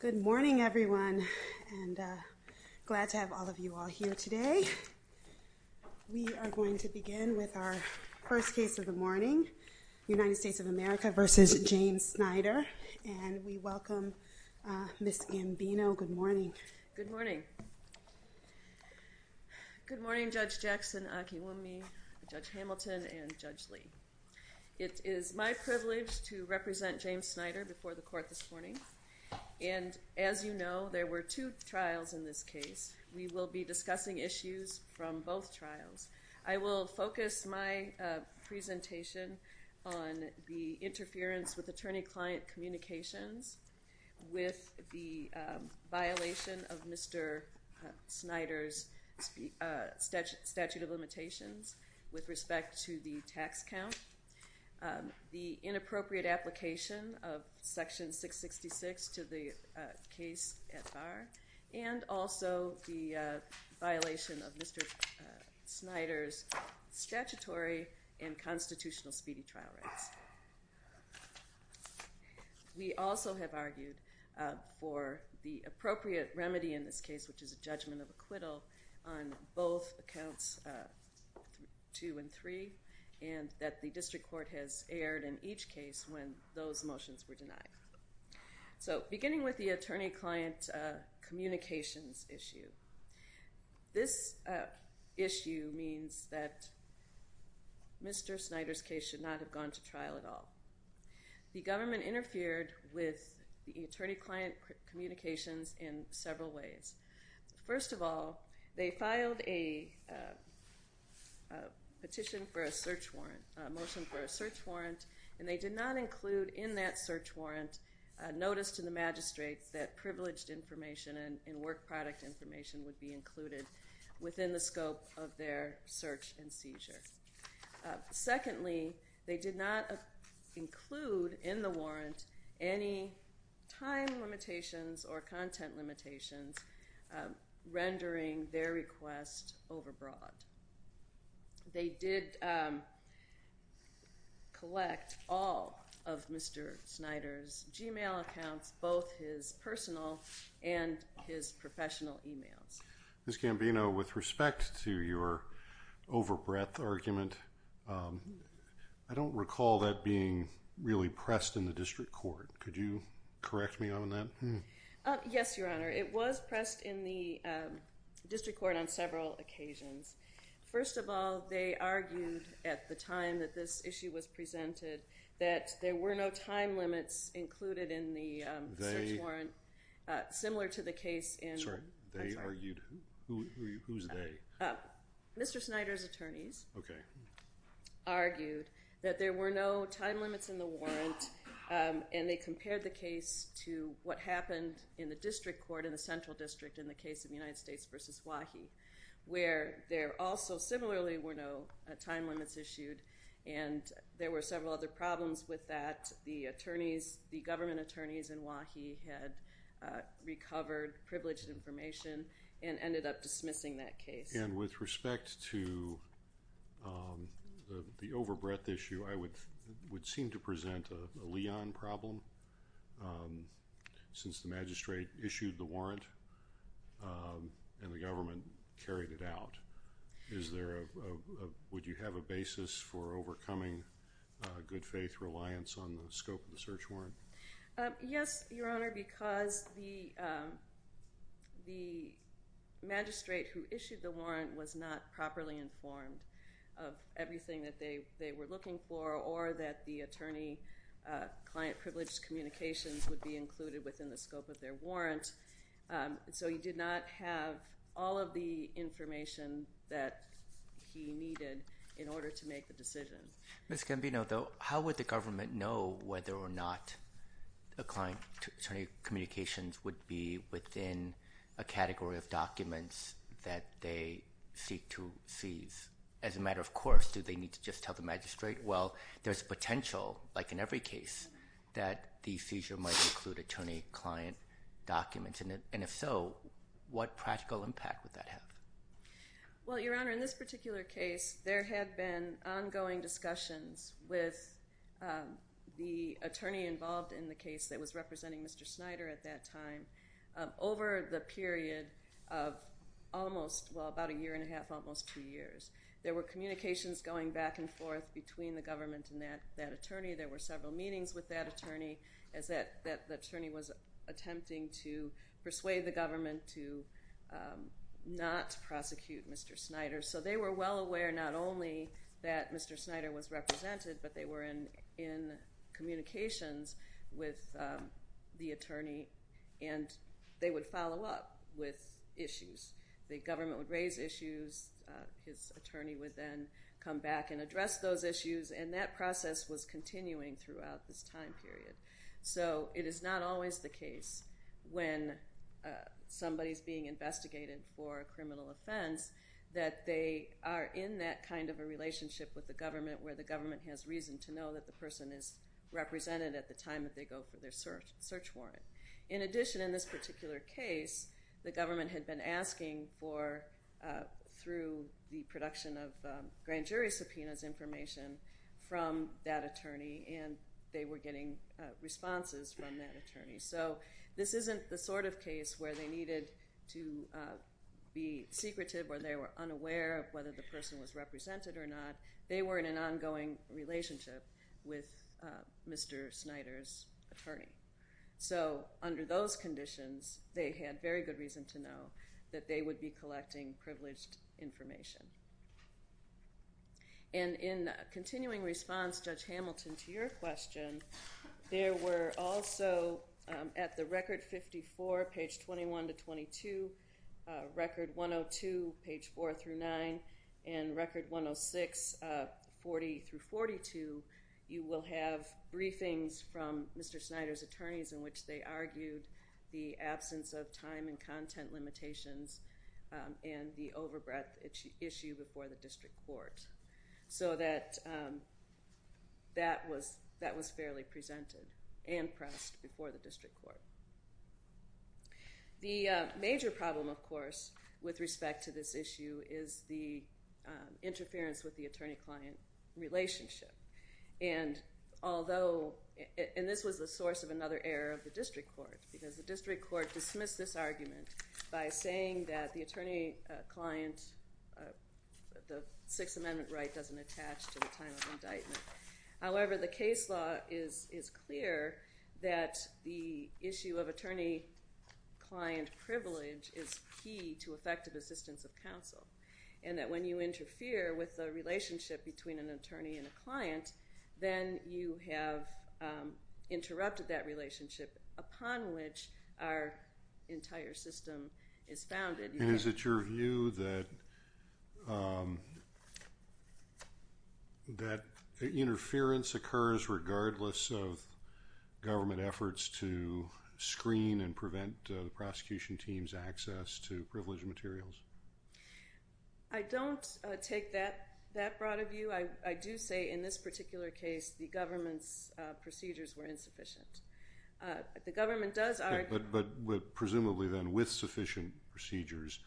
Good morning everyone and glad to have all of you all here today we are going to begin with our first case of the morning United States of America versus James Snyder and we welcome Ms. Gambino. Good morning. Good morning Judge Jackson, Akiwumi, Judge Hamilton and Judge Lee. It is my privilege to represent James Snyder before the court this morning and as you know there were two trials in this case we will be discussing issues from both trials. I will focus my presentation on the interference with attorney-client communications with the violation of Mr. Snyder's statute of limitations with respect to the tax count, the inappropriate application of section 666 to the case at bar and also the violation of Mr. Snyder's statutory and constitutional speedy trial rights. We also have argued for the appropriate remedy in this case which is a judgment of acquittal on both accounts 2 and 3 and that the district court has aired in each case when those motions were denied. So beginning with the attorney-client communications issue, this issue means that Mr. Snyder's case should not have gone to trial at all. The government interfered with the attorney-client communications in several ways. First of all they filed a petition for a search warrant, a motion for a search warrant and they did not include in that search warrant a notice to the magistrates that privileged information and work product information would be included within the scope of their search and seizure. Secondly they did not include in the warrant any time limitations or content limitations rendering their request overbroad. They did collect all of Mr. Snyder's gmail accounts, both his personal and his professional emails. Ms. Gambino, with respect to your over-breadth argument, I don't recall that being really pressed in the district court. Could you correct me on that? Yes, your honor. It was pressed in the district court on several occasions. First of all they argued at the time that this issue was presented that there were no time limits included in the search warrant, similar to the case in... Sorry, they argued? Who's they? Mr. Snyder's attorneys argued that there were no time limits in the warrant and they compared the case to what happened in the district court in the central district in the case of the United States versus Wahi where there also similarly were no time limits issued and there were several other problems with that. The attorneys, the government attorneys in Wahi had recovered privileged information and ended up dismissing that case. And with respect to the over-breadth issue I would would seem to present a Leon problem since the and the government carried it out. Is there a, would you have a basis for overcoming good-faith reliance on the scope of the search warrant? Yes, your honor, because the the magistrate who issued the warrant was not properly informed of everything that they they were looking for or that the attorney client privileged communications would be included within the scope of their So he did not have all of the information that he needed in order to make the decision. Ms. Gambino, how would the government know whether or not a client attorney communications would be within a category of documents that they seek to seize? As a matter of course, do they need to just tell the magistrate? Well there's potential, like in every case, that the seizure might include attorney client documents. And if so, what practical impact would that have? Well your honor, in this particular case there had been ongoing discussions with the attorney involved in the case that was representing Mr. Snyder at that time over the period of almost, well about a year and a half, almost two years. There were communications going back and forth between the government and that that attorney. There were several meetings with that attorney as that that attorney was attempting to persuade the government to not prosecute Mr. Snyder. So they were well aware not only that Mr. Snyder was represented, but they were in in communications with the attorney and they would follow up with issues. The government would raise issues, his attorney would then come back and address those issues, and that process was continuing throughout this time period. So it is not always the case when somebody's being investigated for a criminal offense that they are in that kind of a relationship with the government where the government has reason to know that the person is represented at the time that they go for their search search warrant. In addition, in this particular case, the government had been asking for, through the production of grand jury subpoenas, information from that attorney and they were getting responses from that attorney. So this isn't the sort of case where they needed to be secretive or they were unaware of whether the person was represented or not. They were in an ongoing relationship with Mr. Snyder's attorney. So under those conditions, they had very good reason to know that they would be collecting privileged information. And in continuing response, Judge Hamilton, to your question, there were also at the Record 54, page 21 to 22, Record 102, page 4 through 9, and Record 106, 40 through 42, you will have briefings from Mr. Snyder's attorneys in which they argued the absence of time and content limitations and the overbreadth issue before the district court. So that was fairly presented and pressed before the district court. The major problem, of course, with respect to this issue is the interference with the attorney-client relationship. And although, and this was the source of another error of the district court, because the district court dismissed this argument by saying that the attorney-client, the Sixth Amendment right doesn't attach to the time of indictment. However, the case law is clear that the issue of attorney-client privilege is key to effective assistance of counsel. And that when you interfere with the relationship between an attorney and a client, then you have interrupted that our entire system is founded. And is it your view that interference occurs regardless of government efforts to screen and prevent the prosecution team's access to privileged materials? I don't take that that broad of view. I do say in this particular case the government's presumably then with sufficient procedures,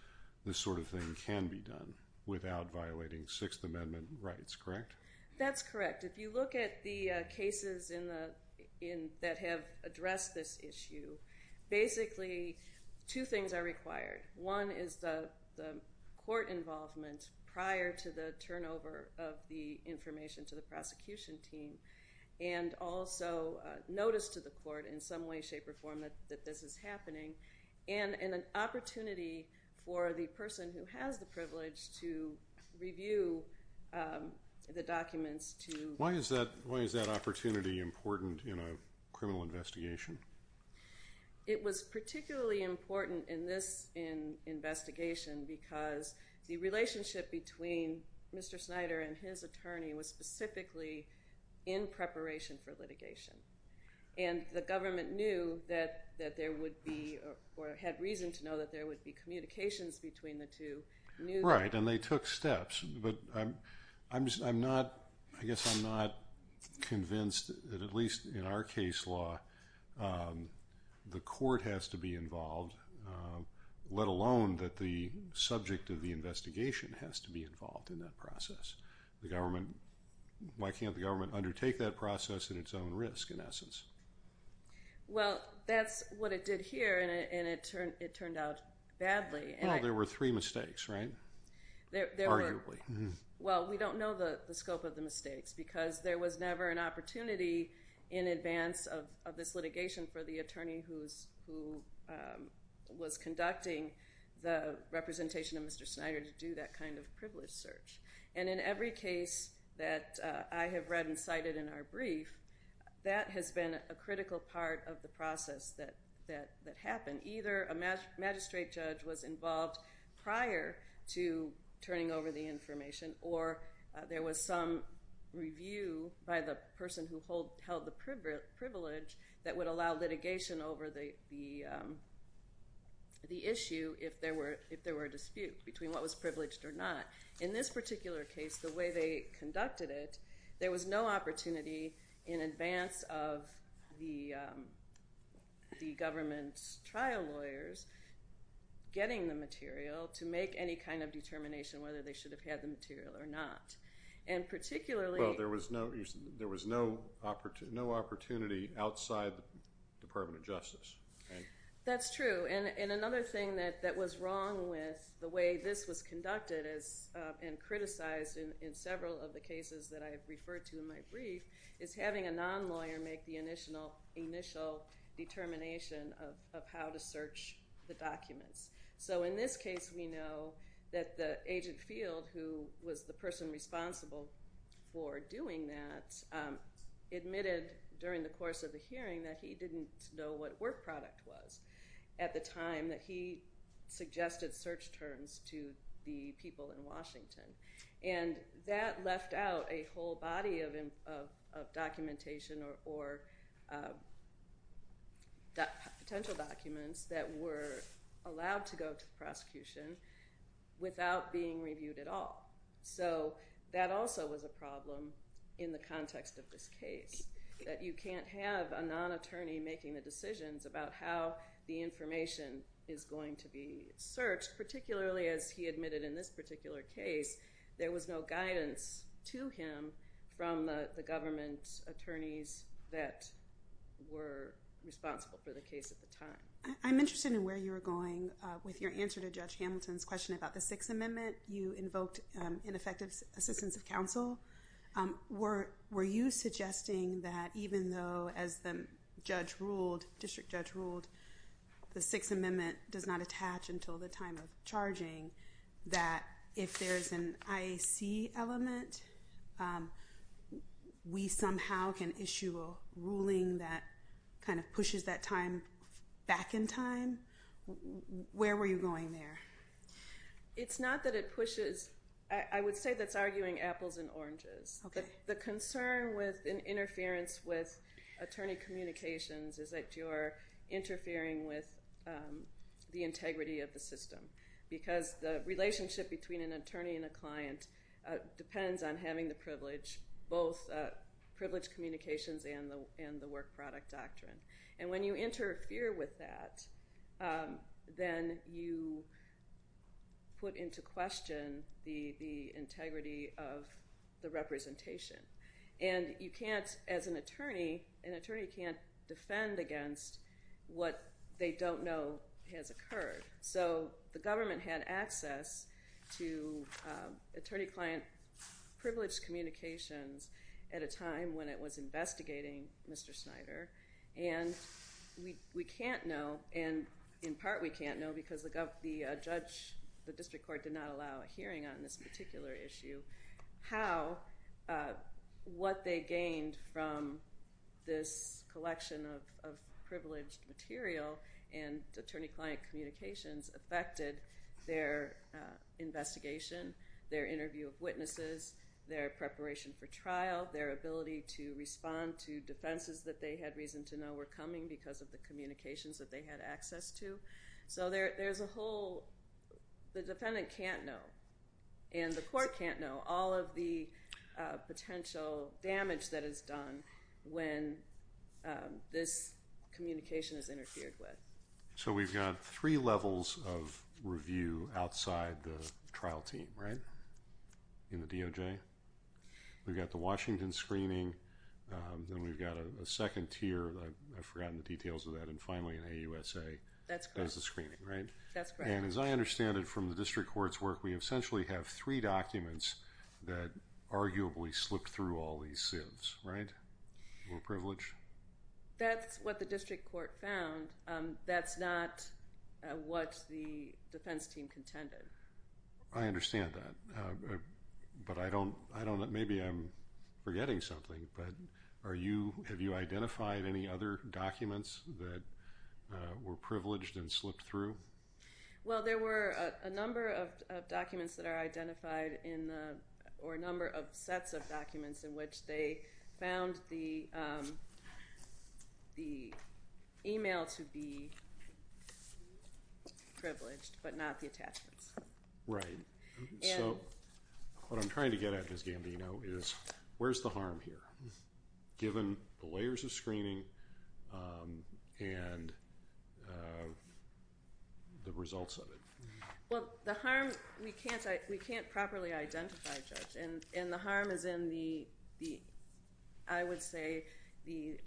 this sort of thing can be done without violating Sixth Amendment rights, correct? That's correct. If you look at the cases that have addressed this issue, basically two things are required. One is the court involvement prior to the turnover of the information to the prosecution team, and also notice to the court in some way, with the state reform, that this is happening. And an opportunity for the person who has the privilege to review the documents. Why is that opportunity important in a criminal investigation? It was particularly important in this investigation because the relationship between Mr. Snyder and his attorney was that there would be, or had reason to know, that there would be communications between the two. Right, and they took steps. But I'm not, I guess I'm not convinced that at least in our case law, the court has to be involved, let alone that the subject of the investigation has to be involved in that process. The government, why can't the government undertake that process at its own risk in essence? Well, that's what it did here and it turned out badly. Well, there were three mistakes, right? Arguably. Well, we don't know the scope of the mistakes because there was never an opportunity in advance of this litigation for the attorney who was conducting the representation of Mr. Snyder to do that kind of privilege search. And in every case that I have read and cited in our history, that has been a critical part of the process that happened. Either a magistrate judge was involved prior to turning over the information or there was some review by the person who held the privilege that would allow litigation over the issue if there were a dispute between what was privileged or not. In this particular case, the way they conducted it, there was no opportunity in advance of the government's trial lawyers getting the material to make any kind of determination whether they should have had the material or not. And particularly, there was no opportunity outside the Department of Justice. That's true and another thing that was wrong with the way this was conducted and criticized in several of the cases that I have referred to in my brief, is having a non-lawyer make the initial determination of how to search the documents. So in this case, we know that the agent Field, who was the person responsible for doing that, admitted during the course of the hearing that he didn't know what work product was at the time that he suggested search terms to the people in the case. So he left out a whole body of documentation or potential documents that were allowed to go to prosecution without being reviewed at all. So that also was a problem in the context of this case, that you can't have a non-attorney making the decisions about how the information is going to be searched, particularly as he admitted in this particular case, there was no guidance to him from the government attorneys that were responsible for the case at the time. I'm interested in where you were going with your answer to Judge Hamilton's question about the Sixth Amendment. You invoked ineffective assistance of counsel. Were you suggesting that even though, as the district judge ruled, the Sixth Amendment does not attach until the time of charging, that if there's an IAC element, we somehow can issue a ruling that kind of pushes that time back in time? Where were you going there? It's not that it pushes. I would say that's arguing apples and oranges. The concern with an interference with attorney communications is that you're interfering with the integrity of the system. Because the relationship between an attorney and a client depends on having the privilege, both privilege communications and the work product doctrine. And when you interfere with that, then you put into question the integrity of the representation. And you what they don't know has occurred. So the government had access to attorney-client privilege communications at a time when it was investigating Mr. Snyder. And we can't know, and in part we can't know because the judge, the district court, did not allow a hearing on this particular issue, how, what they gained from this privileged material and attorney-client communications affected their investigation, their interview of witnesses, their preparation for trial, their ability to respond to defenses that they had reason to know were coming because of the communications that they had access to. So there's a whole, the defendant can't know and the court can't know all of the potential damage that is communication has interfered with. So we've got three levels of review outside the trial team, right? In the DOJ? We've got the Washington screening, then we've got a second tier, I've forgotten the details of that, and finally in AUSA that's the screening, right? That's correct. And as I understand it from the district court's work, we essentially have three documents that arguably slipped through all these sieves, right? We're privileged? That's what the district court found. That's not what the defense team contended. I understand that, but I don't, I don't, maybe I'm forgetting something, but are you, have you identified any other documents that were privileged and slipped through? Well, there were a number of documents that are identified in the, or a number of sets of documents in which they found the email to be privileged, but not the attachments. Right. So what I'm trying to get at, Ms. Gambino, is where's the harm here, given the layers of screening and the results of it? Well, the harm, we can't, we can't properly identify, Judge, and the harm is in the, I would say, the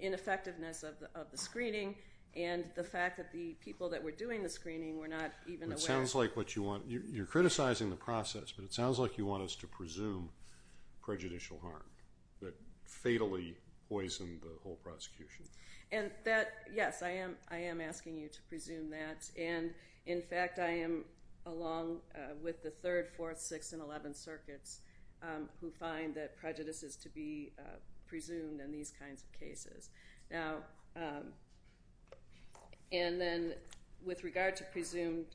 ineffectiveness of the screening and the fact that the people that were doing the screening were not even aware. It sounds like what you want, you're criticizing the the prosecution. And that, yes, I am, I am asking you to presume that, and in fact, I am, along with the Third, Fourth, Sixth, and Eleventh circuits, who find that prejudice is to be presumed in these kinds of cases. Now, and then with regard to presumed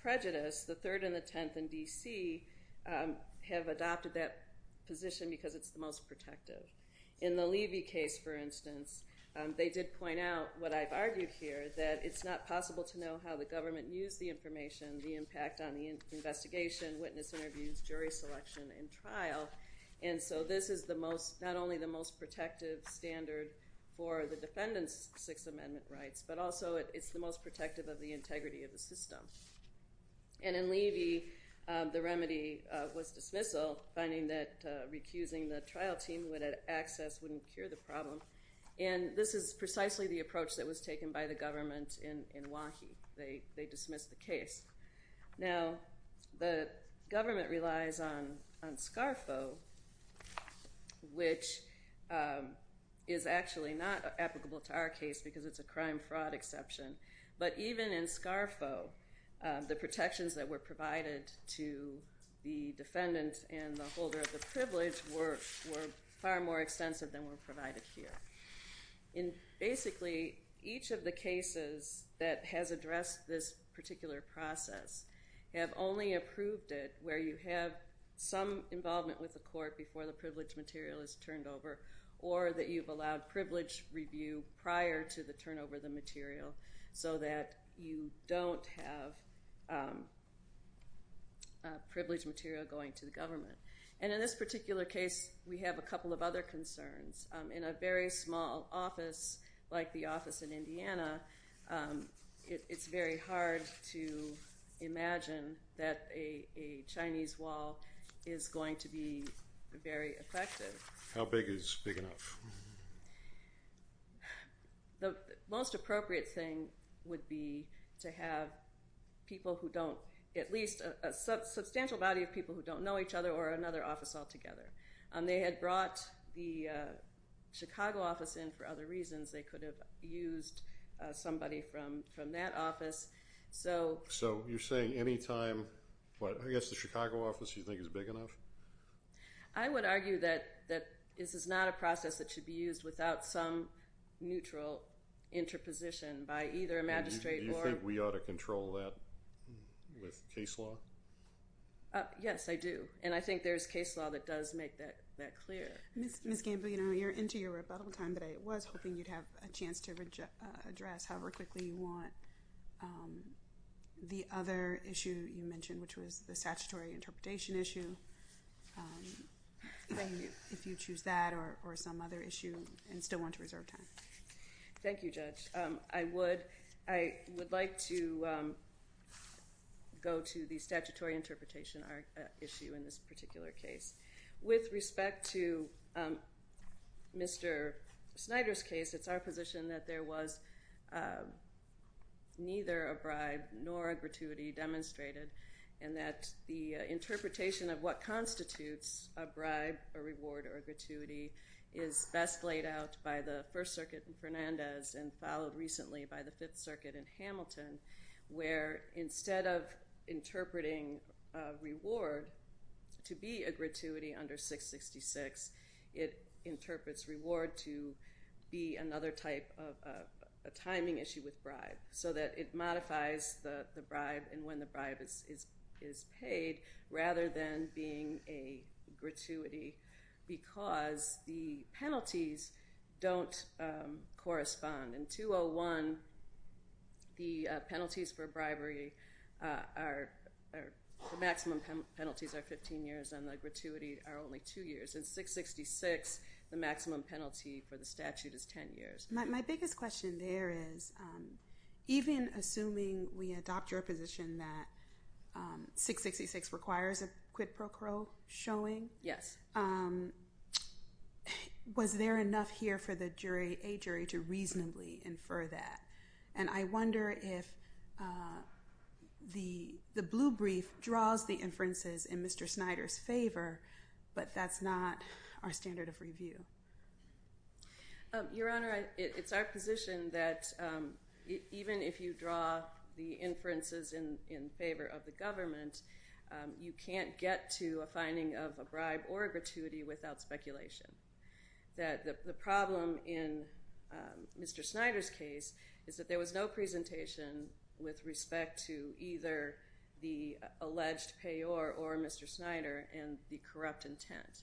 prejudice, the Third and the Tenth in D.C. have adopted that position because it's the most protective. In the Levy case, for instance, they did point out what I've argued here, that it's not possible to know how the government used the information, the impact on the investigation, witness interviews, jury selection, and trial, and so this is the most, not only the most protective standard for the defendant's Sixth Amendment rights, but also it's the most protective of the integrity of the system. And in Levy, the remedy was dismissal, finding that recusing the trial team who had access wouldn't cure the problem, and this is precisely the approach that was taken by the government in Wahi. They dismissed the case. Now, the government relies on on SCARFO, which is actually not applicable to our case because it's a crime-fraud exception, but even in SCARFO, the protections that were provided to the defendant and the holder of the privilege were far more extensive than were provided here. Basically, each of the cases that has addressed this particular process have only approved it where you have some involvement with the court before the privilege material is turned over or that you've allowed privilege review prior to the turnover of the material so that you don't have privilege material going to the government. And in this particular case, we have a couple of other concerns. In a very small office like the office in Indiana, it's very hard to imagine that a Chinese wall is going to be very effective. How big is big enough? The most appropriate thing would be to have people who don't, at least a substantial body of people who don't know each other or another office altogether. They had brought the Chicago office in for other reasons. They could have used somebody from that office. So you're saying any time, but I guess the Chicago office you think is big enough? I would argue that this is not a process that should be used without some neutral interposition by either a magistrate or... Do you think we ought to control that with case law? Yes, I do. And I think there's case law that does make that clear. Ms. Gambino, you're into your rebuttal time, but I was hoping you'd have a chance to address however quickly you want the other issue you mentioned, which was the statutory interpretation issue. If you choose that or some other issue and still want to reserve time. Thank you, Judge. I would like to go to the statutory interpretation issue in this particular case. With respect to Mr. Snyder's case, it's our position that there was neither a bribe nor a gratuity demonstrated and that the interpretation of what constitutes a bribe, a reward, or a gratuity is best laid out by the First Circuit in Fernandez and followed recently by the Fifth Circuit in Hamilton, where instead of interpreting reward to be a gratuity under 666, it interprets reward to be another type of a timing issue with bribe. So that it is a gratuity rather than being a gratuity because the penalties don't correspond. In 201, the penalties for bribery, the maximum penalties are 15 years and the gratuity are only two years. In 666, the maximum penalty for the statute is 10 years. My biggest question there is even assuming we adopt your position that 666 requires a quid pro quo showing, was there enough here for the jury, a jury, to reasonably infer that? And I wonder if the the blue brief draws the inferences in Mr. Snyder's favor, but that's not our standard of review. Your Honor, it's our of the government, you can't get to a finding of a bribe or gratuity without speculation. That the problem in Mr. Snyder's case is that there was no presentation with respect to either the alleged payor or Mr. Snyder and the corrupt intent.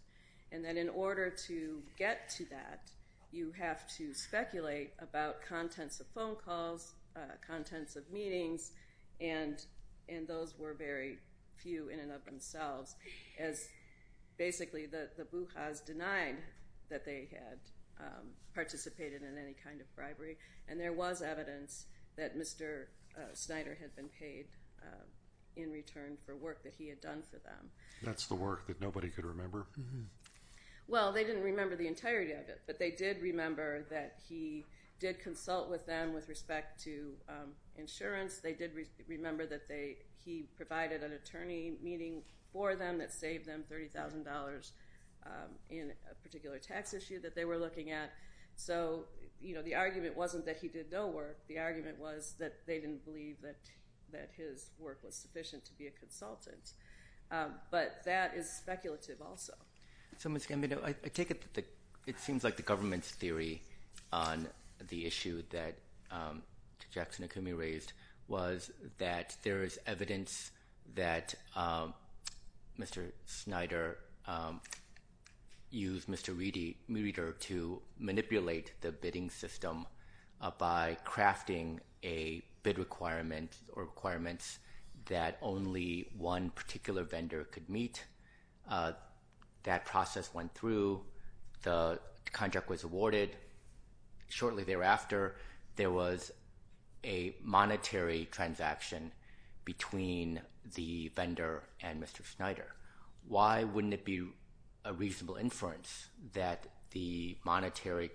And then in order to get to that, you have to speculate about those were very few in and of themselves as basically the Bujas denied that they had participated in any kind of bribery. And there was evidence that Mr. Snyder had been paid in return for work that he had done for them. That's the work that nobody could remember? Well, they didn't remember the entirety of it, but they did remember that he did consult with them with respect to insurance. They did remember that they he provided an attorney meeting for them that saved them $30,000 in a particular tax issue that they were looking at. So, you know, the argument wasn't that he did no work. The argument was that they didn't believe that that his work was sufficient to be a consultant. But that is speculative also. So Ms. Gambino, I take it that it seems like the government's issue that Jackson Akumi raised was that there is evidence that Mr. Snyder used Mr. Reeder to manipulate the bidding system by crafting a bid requirement or requirements that only one particular vendor could meet. That process went through. The contract was awarded. Shortly thereafter, there was a monetary transaction between the vendor and Mr. Snyder. Why wouldn't it be a reasonable inference that the monetary,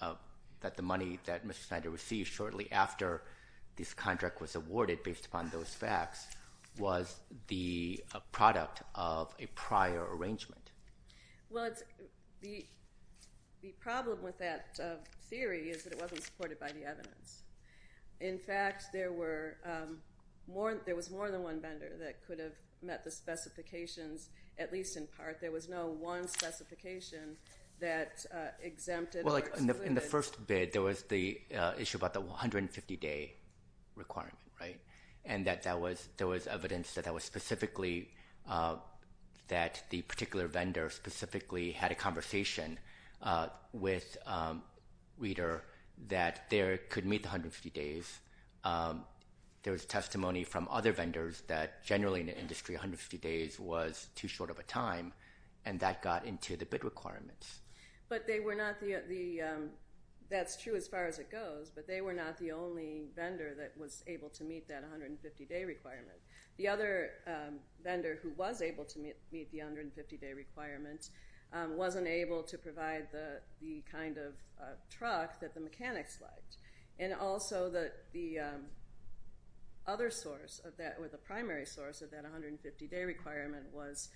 that the money that Mr. Snyder received shortly after this contract was awarded based upon those facts was the product of a bid? Well, the problem with that theory is that it wasn't supported by the evidence. In fact, there were more, there was more than one vendor that could have met the specifications, at least in part. There was no one specification that exempted. Well, like in the first bid, there was the issue about the 150-day requirement, right? And that that was, there was evidence that that was specifically that the had a conversation with Reeder that there could meet the 150 days. There was testimony from other vendors that generally in the industry, 150 days was too short of a time, and that got into the bid requirements. But they were not the, that's true as far as it goes, but they were not the only vendor that was able to meet that 150-day requirement. The other vendor who was able to meet the 150-day requirement wasn't able to provide the kind of truck that the mechanics liked. And also that the other source of that, or the primary source of that 150-day requirement was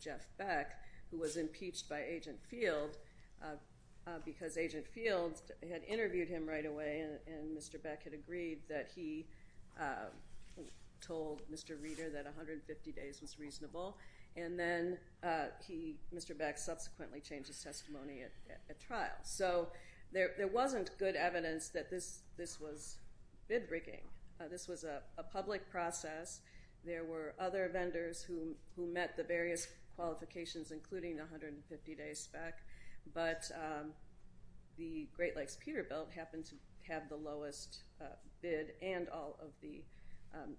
Jeff Beck, who was impeached by Agent Field because Agent Field had interviewed him right away, and Mr. Beck had agreed that he told Mr. Reeder that 150 days was reasonable, and then he, Mr. Beck subsequently changed his testimony at trial. So there wasn't good evidence that this was bid rigging. This was a public process. There were other vendors who met the various qualifications, including the 150-day spec, but the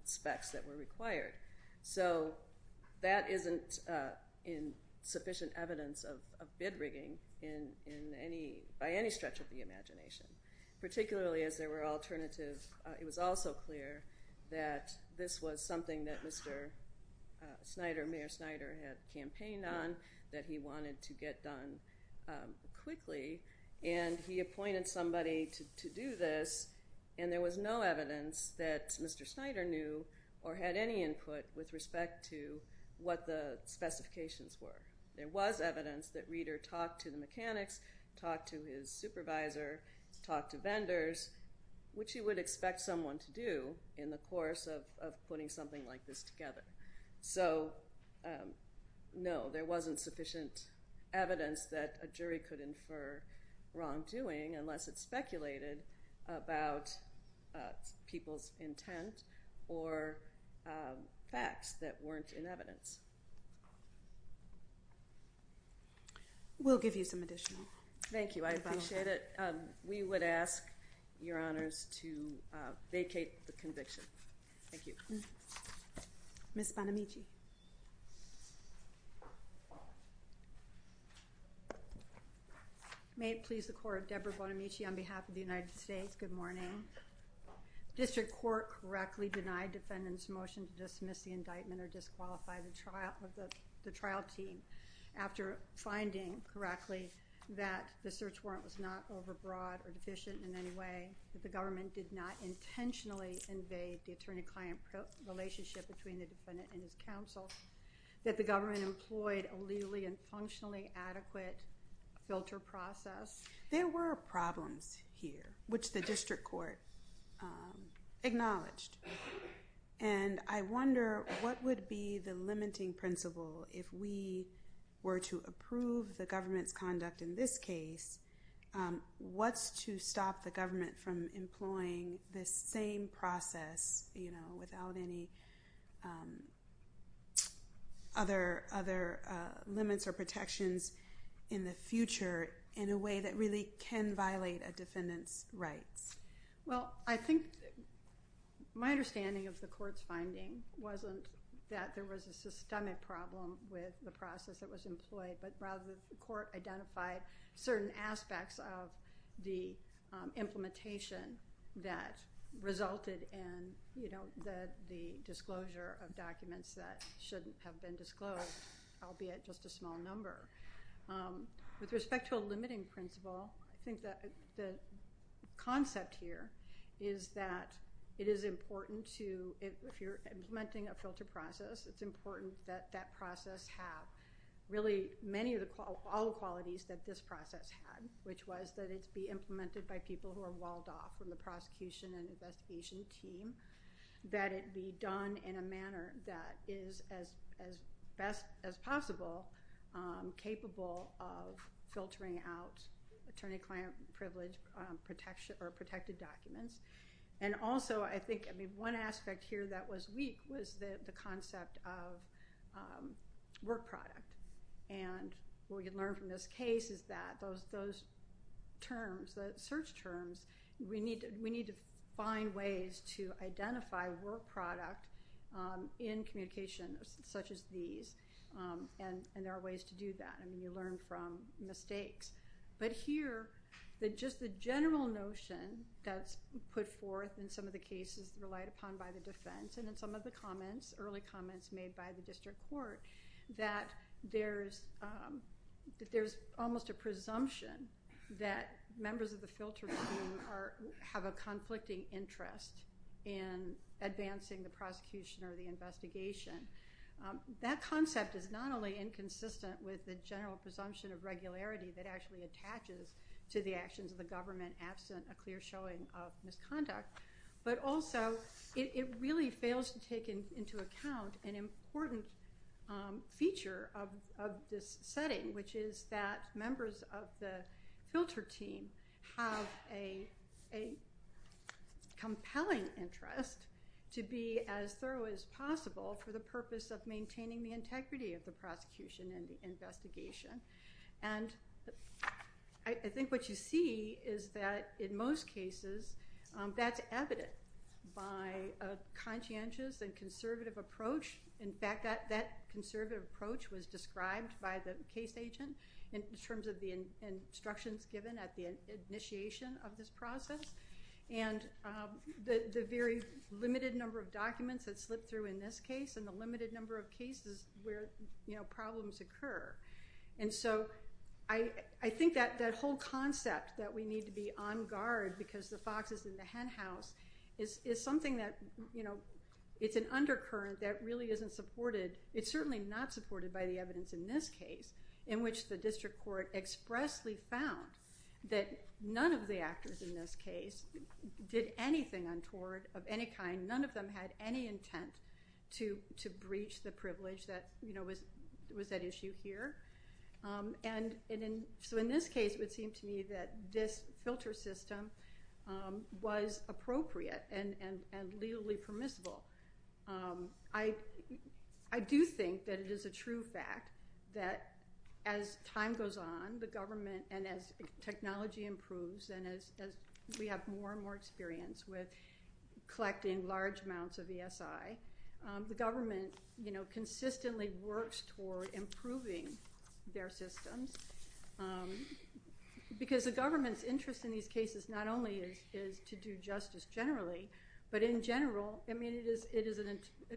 specs that were required. So that isn't in sufficient evidence of bid rigging in any, by any stretch of the imagination, particularly as there were alternatives. It was also clear that this was something that Mr. Snyder, Mayor Snyder, had campaigned on, that he wanted to get done quickly, and he appointed somebody to do this, and there was no evidence that Mr. Snyder knew or had any input with respect to what the specifications were. There was evidence that Reeder talked to the mechanics, talked to his supervisor, talked to vendors, which he would expect someone to do in the course of putting something like this together. So no, there wasn't sufficient evidence that a jury could infer wrongdoing unless it speculated about people's intent or facts that weren't in evidence. We'll give you some additional. Thank you, I appreciate it. We would ask your honors to vacate the conviction. Thank you. Ms. Bonamici. May it please the Court, Deborah Bonamici on behalf of the United States, good morning. District Court correctly denied defendants motion to dismiss the indictment or disqualify the trial of the trial team after finding correctly that the search warrant was not overbroad or deficient in any way, that the government did not intentionally invade the attorney-client relationship between the defendant and his counsel, that the government employed a legally and functionally adequate filter process. There were problems here, which the District Court acknowledged, and I wonder what would be the limiting principle if we were to approve the government's conduct in this case, what's to stop the government from employing this same process, you know, without any other limits or protections in the future in a way that really can violate a defendant's rights? Well, I think my understanding of the court's finding wasn't that there was a systemic problem with the process that was employed, but rather the court identified certain aspects of the implementation that resulted in, you know, the disclosure of documents that shouldn't have been disclosed, albeit just a small number. With respect to a limiting principle, I think that the concept here is that it is important to, if you're implementing a case, to do all the qualities that this process had, which was that it be implemented by people who are walled off from the prosecution and investigation team, that it be done in a manner that is, as best as possible, capable of filtering out attorney-client privilege protection or protected documents. And also, I think, I mean, one aspect here that was weak was the concept of work product. And what we can learn from this case is that those terms, the search terms, we need to find ways to identify work product in communication such as these, and there are ways to do that. I mean, you learn from mistakes. But here, just the general notion that's put forth in some of the cases relied upon by the defense and in some of the comments, early comments made by the district court, that there's almost a presumption that members of the filter team have a conflicting interest in advancing the prosecution or the investigation. That concept is not only inconsistent with the general presumption of to the actions of the government absent a clear showing of misconduct, but also it really fails to take into account an important feature of this setting, which is that members of the filter team have a compelling interest to be as thorough as possible for the purpose of maintaining the integrity of the case. And what you see is that in most cases, that's evident by a conscientious and conservative approach. In fact, that conservative approach was described by the case agent in terms of the instructions given at the initiation of this process, and the very limited number of documents that slip through in this case, and the limited number of cases where problems occur. And so I think that whole concept that we need to be on guard because the fox is in the hen house is something that, you know, it's an undercurrent that really isn't supported. It's certainly not supported by the evidence in this case, in which the district court expressly found that none of the actors in this case did anything untoward of any kind. None of them had any intent to breach the In this case, it would seem to me that this filter system was appropriate and legally permissible. I do think that it is a true fact that as time goes on, the government, and as technology improves, and as we have more and more experience with collecting large amounts of ESI, the government, you know, consistently works toward improving their systems. Because the government's interest in these cases not only is to do justice generally, but in general, I mean, it is a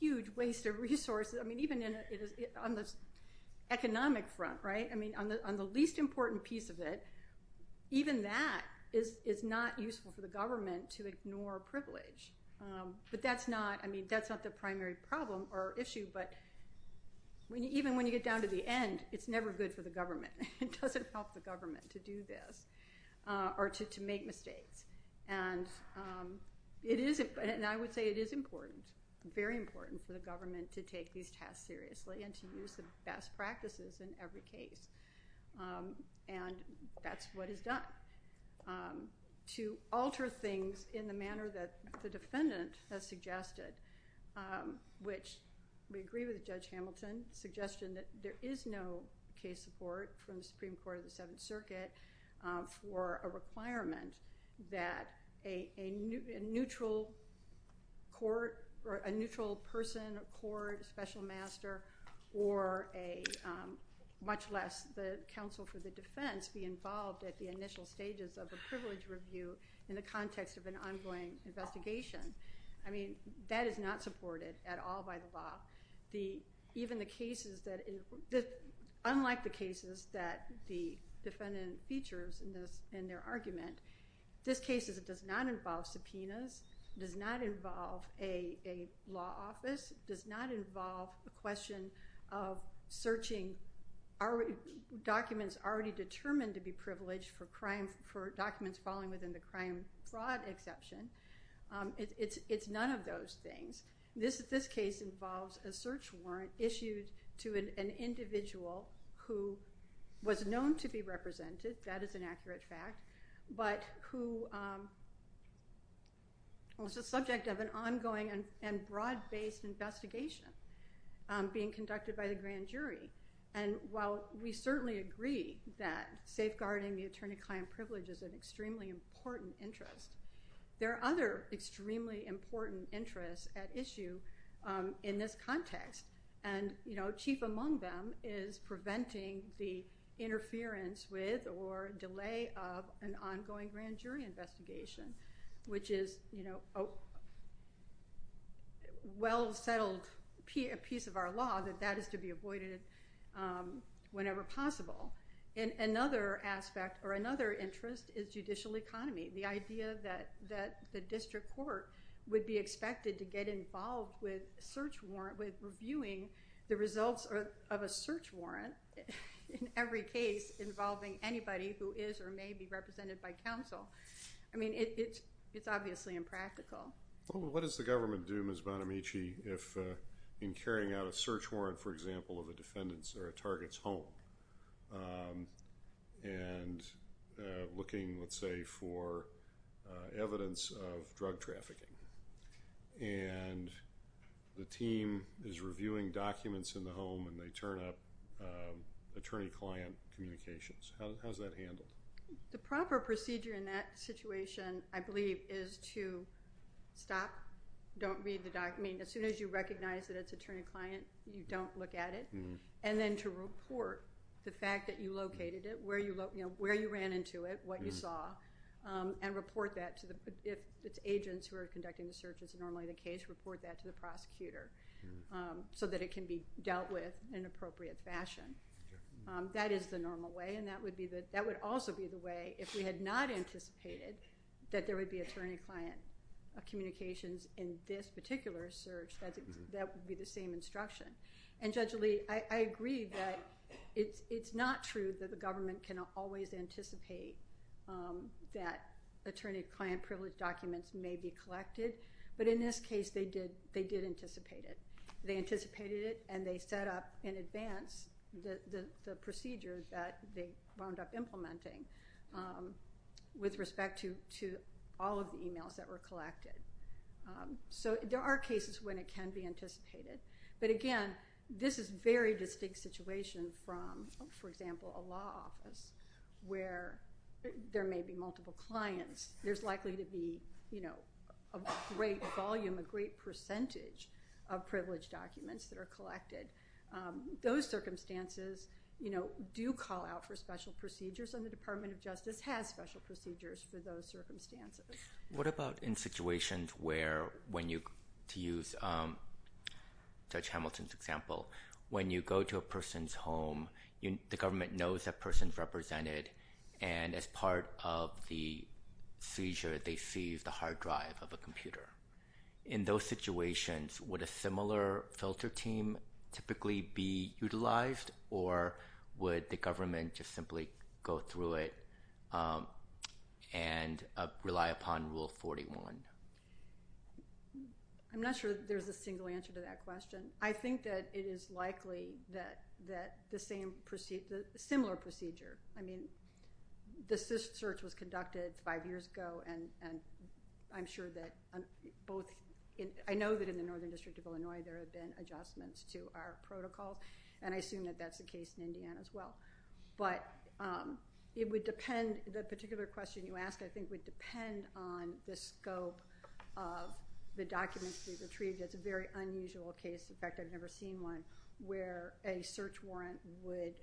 huge waste of resources. I mean, even on the economic front, right? I mean, on the least important piece of it, even that is not useful for the government to ignore privilege. But that's not, I mean, that's not the primary problem or issue, but even when you get down to the end, it's never good for the government. It doesn't help the government to do this, or to make mistakes. And it is, and I would say it is important, very important, for the government to take these tasks seriously and to use the best practices in every case. And that's what is done. To alter things in the manner that the defendant has suggested, which we agree with Judge Hamilton's suggestion, that there is no case support from the Supreme Court of the Seventh Circuit for a requirement that a neutral court, or a neutral person, a court, a special master, or a, much less the counsel for the defense, be involved at the initial stages of a privilege review in the context of an ongoing investigation. I mean, that is not supported at all by the even the cases that, unlike the cases that the defendant features in their argument, this case does not involve subpoenas, does not involve a law office, does not involve a question of searching documents already determined to be privileged for crime, for documents falling within the crime fraud exception. It's none of those things. This case involves a search warrant issued to an individual who was known to be represented, that is an accurate fact, but who was the subject of an ongoing and broad-based investigation being conducted by the grand jury. And while we certainly agree that this is an extremely important interest, there are other extremely important interests at issue in this context. And, you know, chief among them is preventing the interference with or delay of an ongoing grand jury investigation, which is, you know, a well-settled piece of our law that that is to be avoided whenever possible. And another aspect or another interest is judicial economy, the idea that the district court would be expected to get involved with search warrant, with reviewing the results of a search warrant in every case involving anybody who is or may be represented by counsel. I mean, it's obviously impractical. Well, what does the government do, Ms. Bonamici, if in carrying out a search on a defendant's or a target's home and looking, let's say, for evidence of drug trafficking, and the team is reviewing documents in the home and they turn up attorney-client communications? How's that handled? The proper procedure in that situation, I believe, is to stop, don't read the document. As soon as you recognize that it's attorney-client, you don't look at it, and then to report the fact that you located it, where you ran into it, what you saw, and report that to the, if it's agents who are conducting the search, it's normally the case, report that to the prosecutor so that it can be dealt with in an appropriate fashion. That is the normal way, and that would also be the way, if we had not anticipated that there would be attorney- client communications in this particular search, that would be the same instruction. And Judge Lee, I agree that it's not true that the government can always anticipate that attorney-client privilege documents may be collected, but in this case, they did anticipate it. They anticipated it and they set up in advance the procedure that they wound up implementing with respect to all of the emails that were collected. So there are cases when it can be anticipated, but again, this is a very distinct situation from, for example, a law office where there may be multiple clients. There's likely to be, you know, a great volume, a great percentage of privilege documents that are collected. Those circumstances, you know, do call out for special procedures, and the Department of Justice has special procedures for those circumstances. What about in situations where, when you, to use Judge Hamilton's example, when you go to a person's home, the government knows that person's represented, and as part of the seizure, they seize the hard drive of a computer. In those situations, would a similar filter team typically be utilized, or would the government just simply go through it and rely upon Rule 41? I'm not sure there's a single answer to that question. I think that it is likely that the same procedure, similar procedure, I mean, the search was conducted five years ago, and I'm sure that both, I know that in the Northern District of Illinois, there have been adjustments to our protocol, and I assume that that's the case in Indiana as well. But it would depend, the particular question you asked, I think, would depend on the scope of the documents to be retrieved. It's a very unusual case, in fact, I've never seen one, where a search warrant would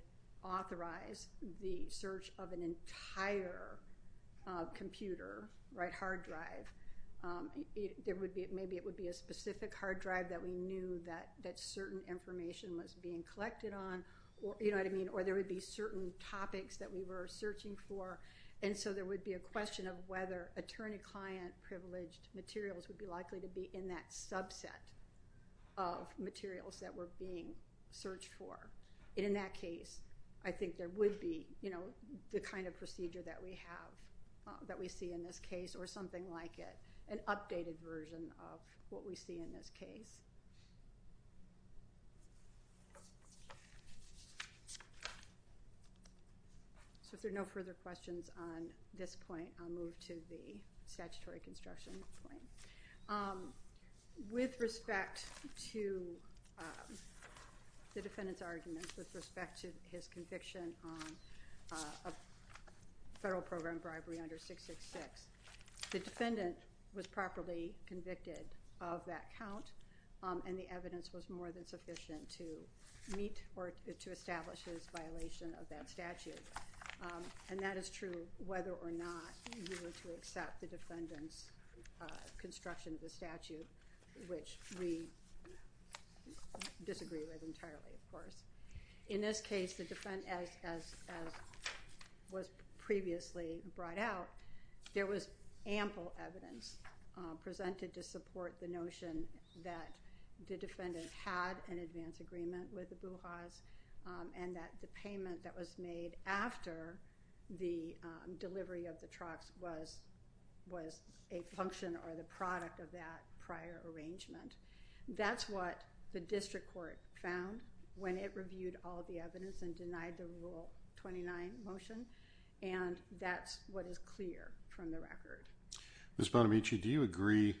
authorize the search of an entire computer, right, hard drive. There would be, maybe it would be a specific hard drive that we knew that certain information was being collected on, you know what I mean, or there would be certain topics that we were searching for, and so there would be a question of whether attorney-client privileged materials would be likely to be in that subset of materials that were being searched for. In that case, I think there would be, you know, the kind of procedure that we have, that we see in this case, or that we see in this case. So if there are no further questions on this point, I'll move to the statutory construction point. With respect to the defendant's argument, with respect to his conviction on a federal program bribery under 666, the defendant was properly convicted of that count, and the evidence was more than sufficient to meet or to establish his violation of that statute. And that is true whether or not you were to accept the defendant's construction of the statute, which we disagree with entirely, of course. In this case, the defendant, as was previously brought out, there was ample evidence presented to support the notion that the defendant had an advance agreement with the Buhas, and that the payment that was made after the delivery of the trucks was a function or the product of that prior arrangement. That's what the district court found when it reviewed all the from the record. Ms. Bonamici, do you agree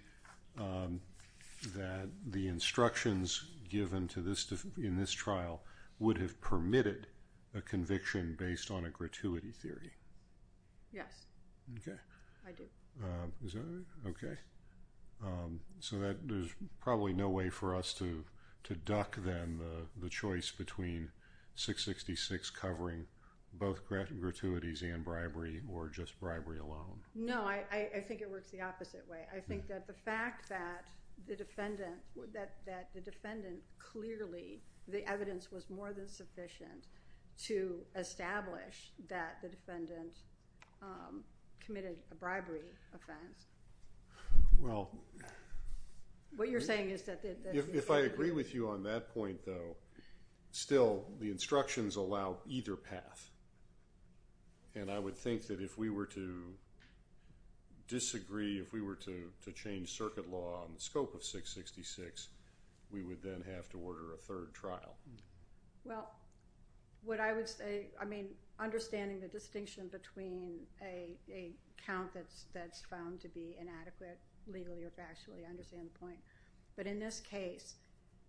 that the instructions given to this in this trial would have permitted a conviction based on a gratuity theory? Yes. Okay. I do. Okay. So that there's probably no way for us to to duck then the choice between 666 covering both gratuities and bribery, or just alone? No, I think it works the opposite way. I think that the fact that the defendant, that the defendant clearly, the evidence was more than sufficient to establish that the defendant committed a bribery offense. Well, what you're saying is that... If I agree with you on that point, though, still the instructions allow either path. And I would think that if we were to disagree, if we were to change circuit law on the scope of 666, we would then have to order a third trial. Well, what I would say, I mean, understanding the distinction between a count that's found to be inadequate legally or factually, but in this case,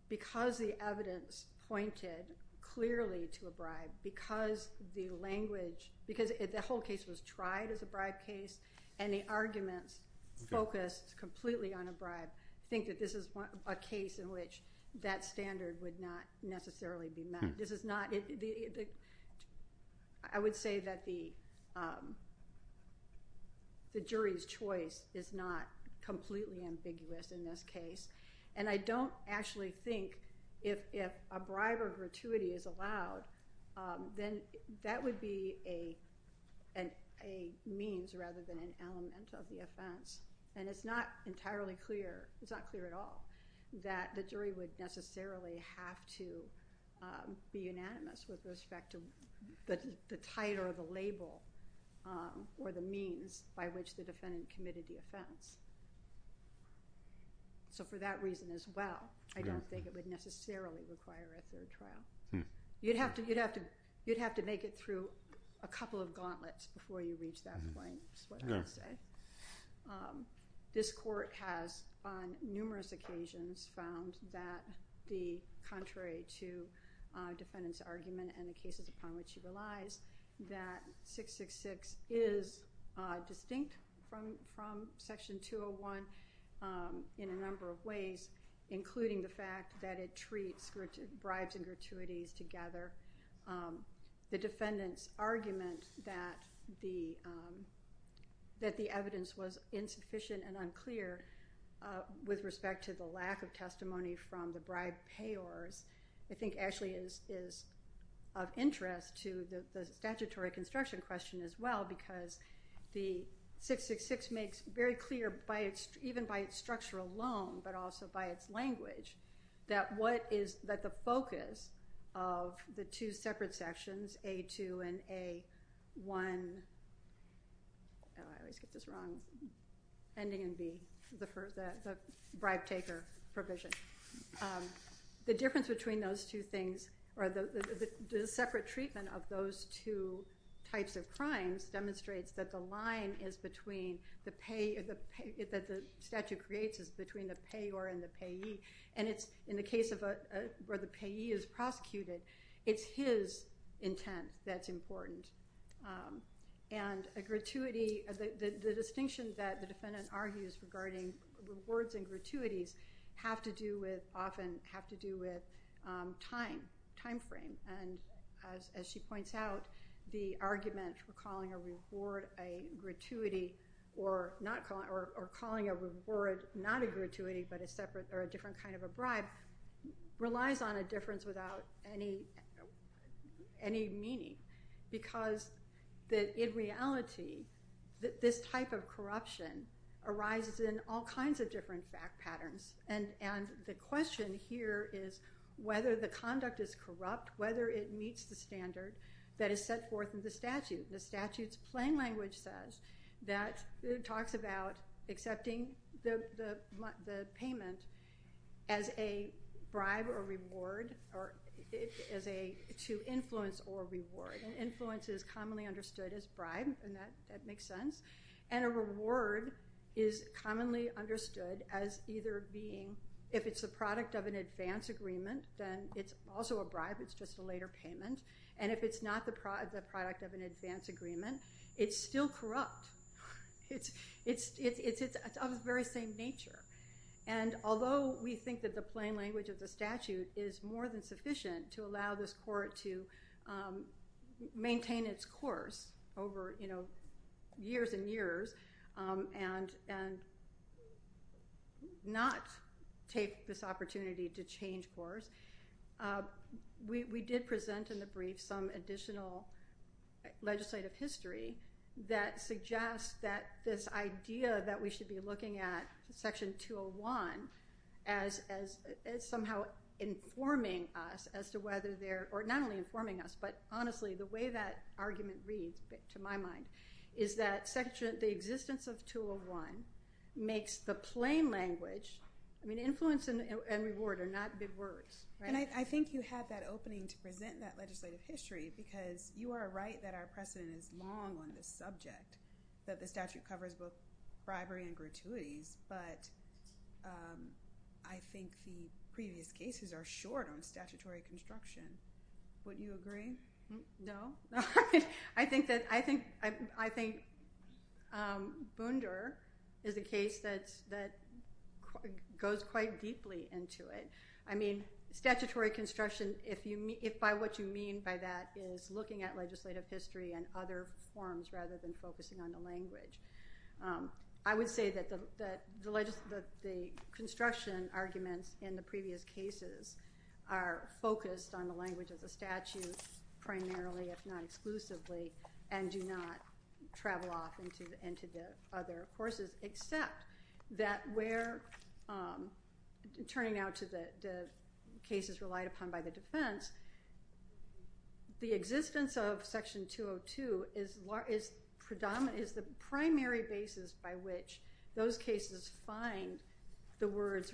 because the evidence pointed clearly to a bribe, because the language, because the whole case was tried as a bribe case, and the arguments focused completely on a bribe, I think that this is a case in which that standard would not necessarily be met. This is not... I would say that the standard would not necessarily be met. And I don't actually think if a bribe or gratuity is allowed, then that would be a means rather than an element of the offense. And it's not entirely clear, it's not clear at all, that the jury would necessarily have to be unanimous with respect to the title or the label or the so for that reason as well, I don't think it would necessarily require a third trial. You'd have to, you'd have to, you'd have to make it through a couple of gauntlets before you reach that point, is what I would say. This court has, on numerous occasions, found that the contrary to defendant's argument and the cases upon which he relies, that 666 is distinct from from section 201 in a number of ways, including the fact that it treats bribes and gratuities together. The defendant's argument that the, that the evidence was insufficient and unclear with respect to the lack of testimony from the bribe payors, I think actually is of interest to the statutory construction question as well, because the 666 makes very clear by its, even by its structure alone, but also by its language, that what is, that the focus of the two separate sections, A2 and A1, I always get this wrong, ending in B, the first, the bribe taker provision. The difference between those two things, or the separate treatment of those two types of crimes, demonstrates that the line is between the pay, that the statute creates is between the payor and the payee, and it's, in the case of a, where the payee is prosecuted, it's his intent that's important. And a gratuity, the distinction that the defendant argues regarding rewards and gratuities have to do with, often have to do with time, time frame, and as she points out, the argument for calling a reward a gratuity, or not calling, or calling a reward not a gratuity, but a separate or a different kind of a bribe, relies on a difference without any, any meaning, because that in reality, this type of corruption arises in all kinds of different fact patterns, and, and the question here is whether the conduct is corrupt, whether it meets the standard that is set forth in the statute. The statute's plain language says that it talks about accepting the payment as a bribe or reward, or as a, to influence or reward, and influence is a, the word is commonly understood as either being, if it's the product of an advance agreement, then it's also a bribe, it's just a later payment, and if it's not the product of an advance agreement, it's still corrupt. It's, it's, it's, it's of the very same nature, and although we think that the plain language of the statute is more than sufficient to allow this court to maintain its course over, you know, years and years, and, and not take this opportunity to change course, we, we did present in the brief some additional legislative history that suggests that this idea that we should be looking at Section 201 as, as, as somehow informing us as to whether they're, or not only informing us, but is that Section, the existence of 201 makes the plain language, I mean influence and reward are not big words. And I think you had that opening to present that legislative history because you are right that our precedent is long on this subject, that the statute covers both bribery and gratuities, but I think the previous cases are short on statutory construction. Wouldn't you agree? No, I think that, I think, I think Bounder is a case that's, that goes quite deeply into it. I mean statutory construction, if you mean, if by what you mean by that is looking at legislative history and other forms rather than focusing on the language. I would say that the, that the, the construction arguments in the previous cases are focused on the language of the statute primarily, if not exclusively, and do not travel off into, into the other courses except that we're turning out to the cases relied upon by the defense. The existence of Section 202 is, is predominant, is the primary basis by which those cases find the words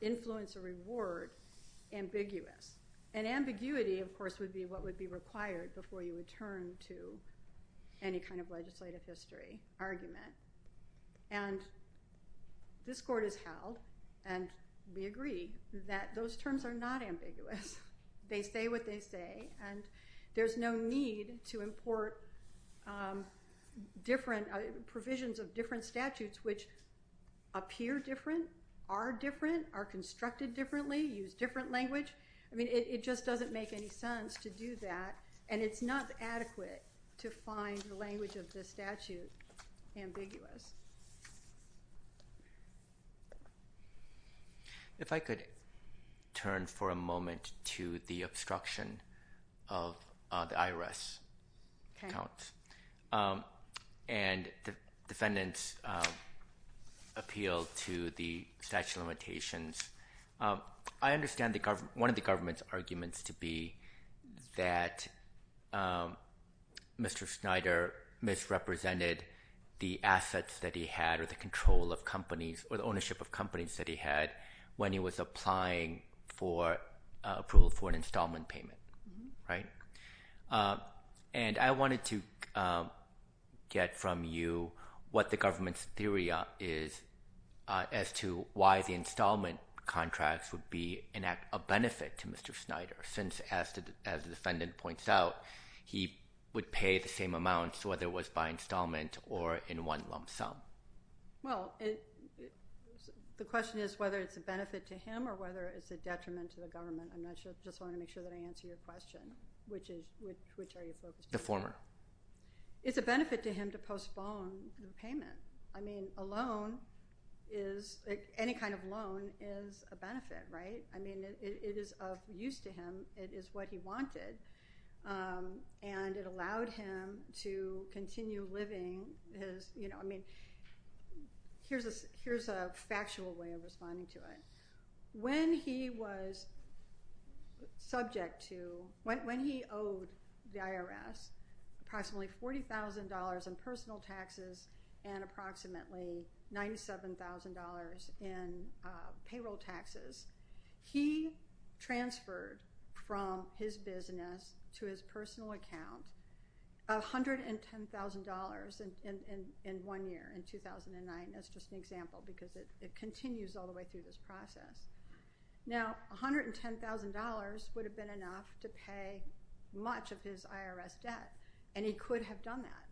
influence or reward ambiguous. And ambiguity, of course, would be what would be required before you return to any kind of legislative history argument. And this court has held, and we agree, that those terms are not ambiguous. They say what they say, and there's no need to different, are constructed differently, use different language. I mean, it, it just doesn't make any sense to do that, and it's not adequate to find the language of the statute ambiguous. If I could turn for a moment to the appeal to the statute of limitations. I understand the government, one of the government's arguments to be that Mr. Snyder misrepresented the assets that he had or the control of companies or the ownership of companies that he had when he was applying for approval for an installment payment, right? And I wanted to get from you what the government's theory is as to why the installment contracts would be a benefit to Mr. Snyder since, as the defendant points out, he would pay the same amounts whether it was by installment or in one lump sum. Well, the question is whether it's a benefit to him or whether it's a detriment to the government. I'm not sure, just wanted to make sure that I focused. The former. It's a benefit to him to postpone the payment. I mean, a loan is, any kind of loan is a benefit, right? I mean, it is of use to him, it is what he wanted, and it allowed him to continue living his, you know, I mean, here's a, here's a factual way of responding to it. When he was subject to, when he owed the IRS approximately $40,000 in personal taxes and approximately $97,000 in payroll taxes, he transferred from his business to his personal account $110,000 in one year, in 2009. That's just an example because it continues all the way through this process. Now, $110,000 would have been enough to pay much of his IRS debt, and he could have done that.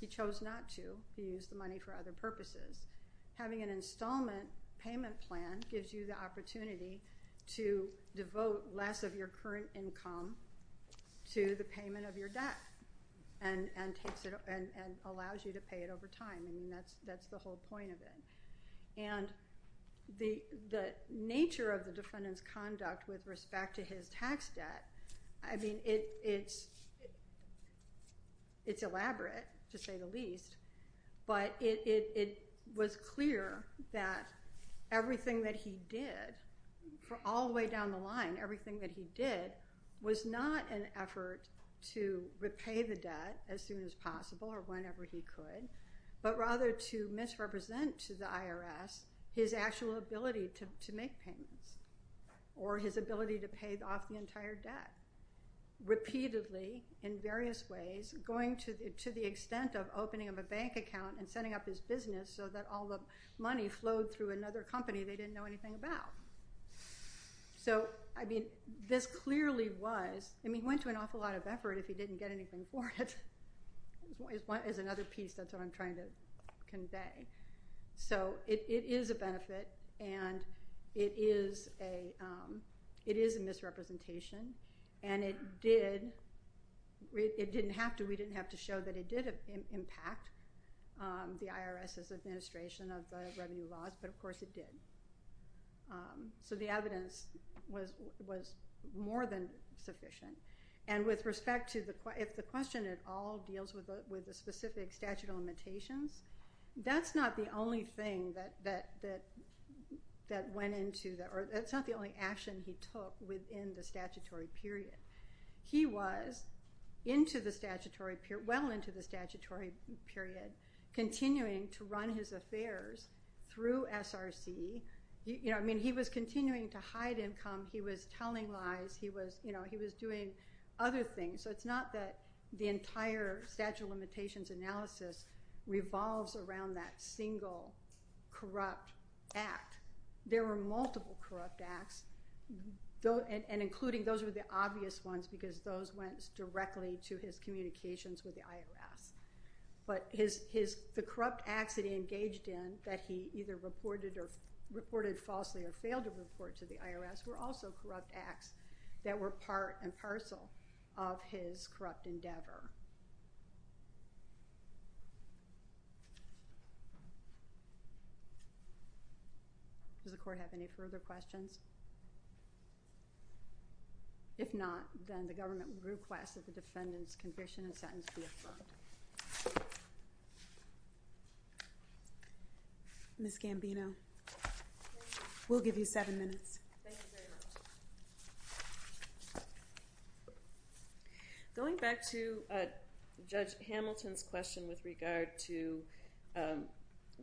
He chose not to. He used the money for other purposes. Having an installment payment plan gives you the opportunity to devote less of your current income to the payment of your debt and, and takes it, and, and allows you to pay it over time. I mean, that's, that's the whole point of it. And the, the nature of the defendant's conduct with respect to his tax debt, I mean, it's elaborate, to say the least, but it, it, it was clear that everything that he did, for all the way down the line, everything that he did was not an effort to repay the debt as soon as possible or whenever he could, but rather to misrepresent to the IRS his actual ability to make payments or his ability to pay off the entire debt, repeatedly, in various ways, going to, to the extent of opening up a bank account and setting up his business so that all the money flowed through another company they didn't know anything about. So, I mean, this clearly was, I mean, he went to an awful lot of effort if he didn't get anything for it, is one, is another piece that's what I'm trying to convey. So, it, it is a misrepresentation and it did, it didn't have to, we didn't have to show that it did impact the IRS's administration of the revenue laws, but of course it did. So, the evidence was, was more than sufficient and with respect to the, if the question at all deals with the, with the specific statute of limitations, that's not the only thing that, that, that, that went into the, or it's not the only action he took within the statutory period. He was into the statutory period, well into the statutory period, continuing to run his affairs through SRC. You know, I mean, he was continuing to hide income, he was telling lies, he was, you know, he was doing other things. So, it's not that the entire statute of limitations analysis revolves around that single corrupt act. There were multiple corrupt acts, though, and including those were the obvious ones because those went directly to his communications with the IRS. But his, his, the corrupt acts that he engaged in, that he either reported or, reported falsely or failed to report to the IRS, were also corrupt acts that were part and parcel of his corrupt endeavor. Does the court have any further questions? If not, then the government requests that the defendant's conviction and sentence be affirmed. Ms. Gambino, we'll give you seven minutes. Thank you very much. Going back to Judge Hamilton's question with regard to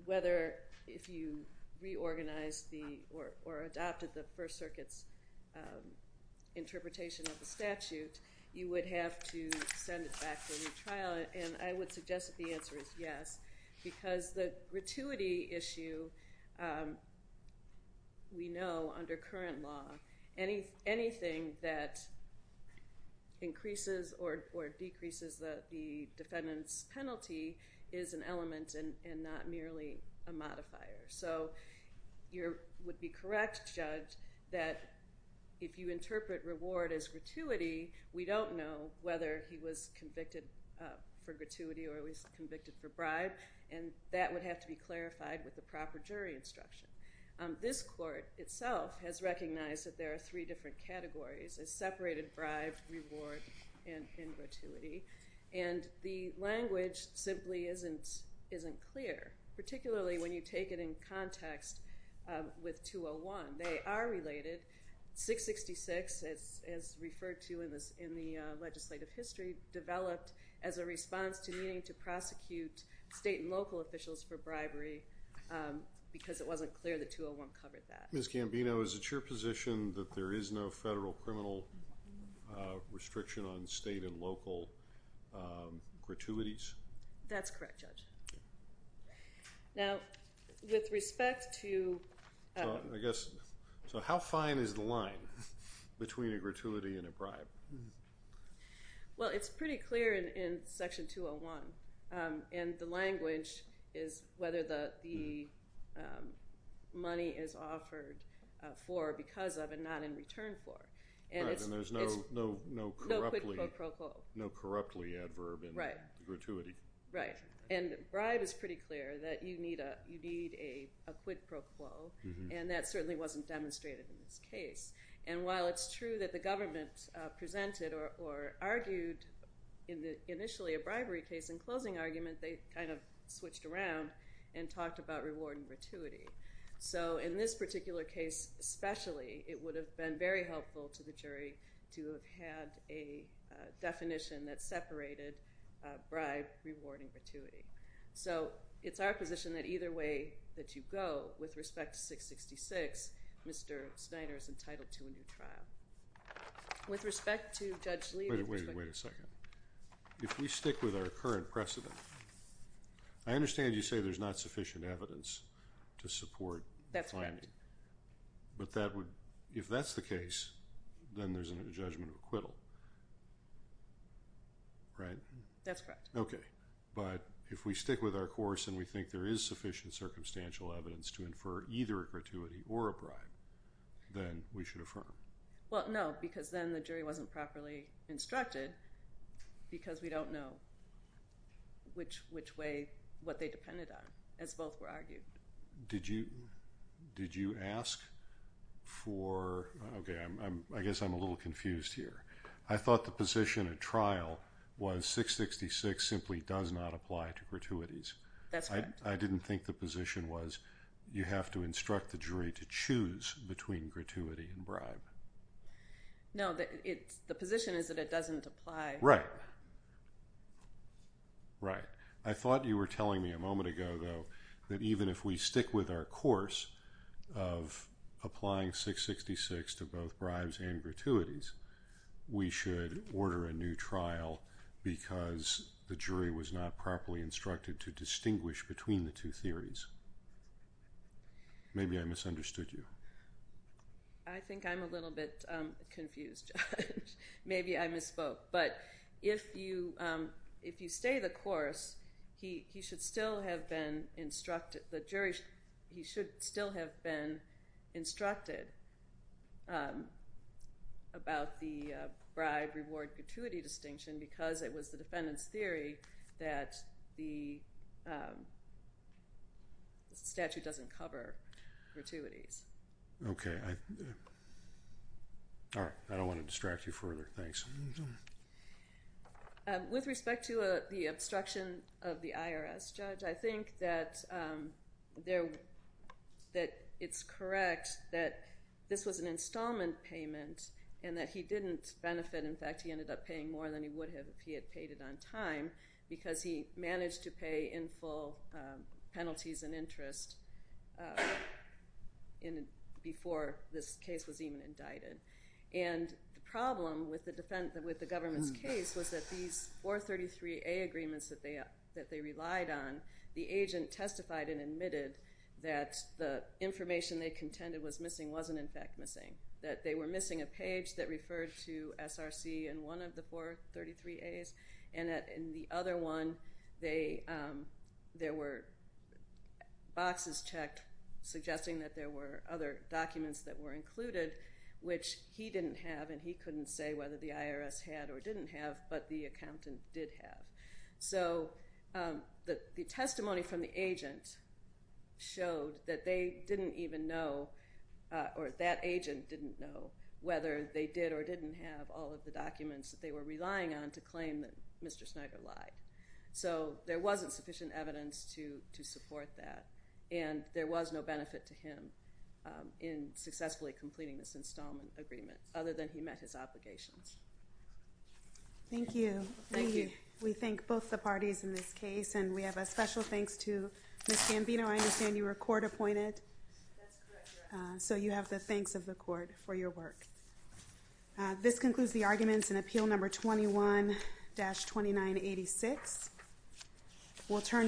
whether, if you reorganized the, or, or adopted the First Circuit's interpretation of the statute, you would have to send it back for retrial, and I would suggest that the answer is yes, because the gratuity issue, we know under current law, anything that increases or, or decreases the defendant's penalty is an element and, and not merely a modifier. So, you're, would be correct, Judge, that if you interpret reward as gratuity, we don't know whether he was convicted for gratuity or he was convicted for bribe, and that would have to be clarified with the proper jury instruction. This court itself has recognized that there are three different categories, as separated bribe, reward, and, and gratuity, and the language simply isn't, isn't clear, particularly when you take it in context with 201. They are related. 666, as, as referred to in the, in the legislative history, developed as a response to needing to prosecute state and local officials for bribery because it wasn't clear that 201 covered that. Ms. Gambino, is it your position that there is no federal criminal restriction on state and local gratuities? That's correct, Judge. Now, with respect to... So, I guess, so how fine is the line between a gratuity and a bribe? Well, it's pretty clear in, in section 201, and the language is whether the, the money is offered for, because of, and not in return for. Right, and there's no, no, no corruptly... No quid pro quo. No corruptly adverb in gratuity. Right, right, and bribe is pretty clear that you need a, you need a, a quid pro quo, and that certainly wasn't demonstrated in this case. And while it's true that the government presented or, or argued in the, initially a bribery case in closing argument, they kind of switched around and talked about reward and gratuity. So, in this particular case especially, it would have been very helpful to the jury to have had a definition that separated bribe, reward, and gratuity. So, it's our position that either way that you go, with respect to 666, Mr. Snyder is entitled to a new trial. With respect to Judge Lee... Wait, wait, wait a second. If we stick with our current precedent, I understand you say there's not sufficient evidence to support the finding. That's correct. But that would, if that's the case, then there's a judgment of acquittal, right? That's correct. Okay, but if we stick with our course and we think there is sufficient circumstantial evidence to infer either a gratuity or a bribe, then we should affirm. Well, no, because then the jury wasn't properly instructed because we don't know which way, what they depended on, as both were argued. Did you, did you ask for, okay, I guess I'm a little confused here. I thought the position at trial was 666 simply does not apply to gratuities. That's correct. I didn't think the position was you have to instruct the jury to choose between gratuity and bribe. No, the position is that it doesn't apply. Right. Right. I thought you were telling me a moment ago, though, that even if we stick with our course of applying 666 to both bribes and gratuities, we should order a new trial because the jury was not properly instructed to distinguish between the two theories. Maybe I misunderstood you. I think I'm a little bit confused, Judge. Maybe I misspoke. But if you, if you stay the course, he should still have been instructed, the jury, he should still have been instructed about the bribe reward gratuity distinction because it was the defendant's theory that the statute doesn't cover gratuities. Okay. All right. I don't want to distract you further. Thanks. With respect to the obstruction of the IRS, Judge, I think that it's correct that this was an installment payment and that he didn't benefit. In fact, he ended up paying more than he would have if he had paid it on time because he managed to pay in full penalties and interest before this case was even indicted. And the problem with the government's case was that these 433A agreements that they relied on, the agent testified and admitted that the information they contended was missing wasn't, in fact, missing, that they were missing a page that referred to SRC in one of the 433As, and that in the other one, they, there were boxes checked suggesting that there were other documents that were included, which he didn't have and he couldn't say whether the IRS had or didn't have, but the accountant did have. So the testimony from the agent showed that they didn't even know, or that agent didn't know, whether they did or didn't have all of the documents that they were relying on to claim that Mr. Snyder lied. So there wasn't sufficient evidence to support that, and there was no benefit to him in successfully completing this installment agreement, other than he met his obligations. Thank you. Thank you. We thank both the parties in this case, and we have a special thanks to Ms. Gambino. I understand you were court-appointed. That's correct, Your Honor. So you have the thanks of the court for your work. This concludes the arguments in Appeal Number 21-2986.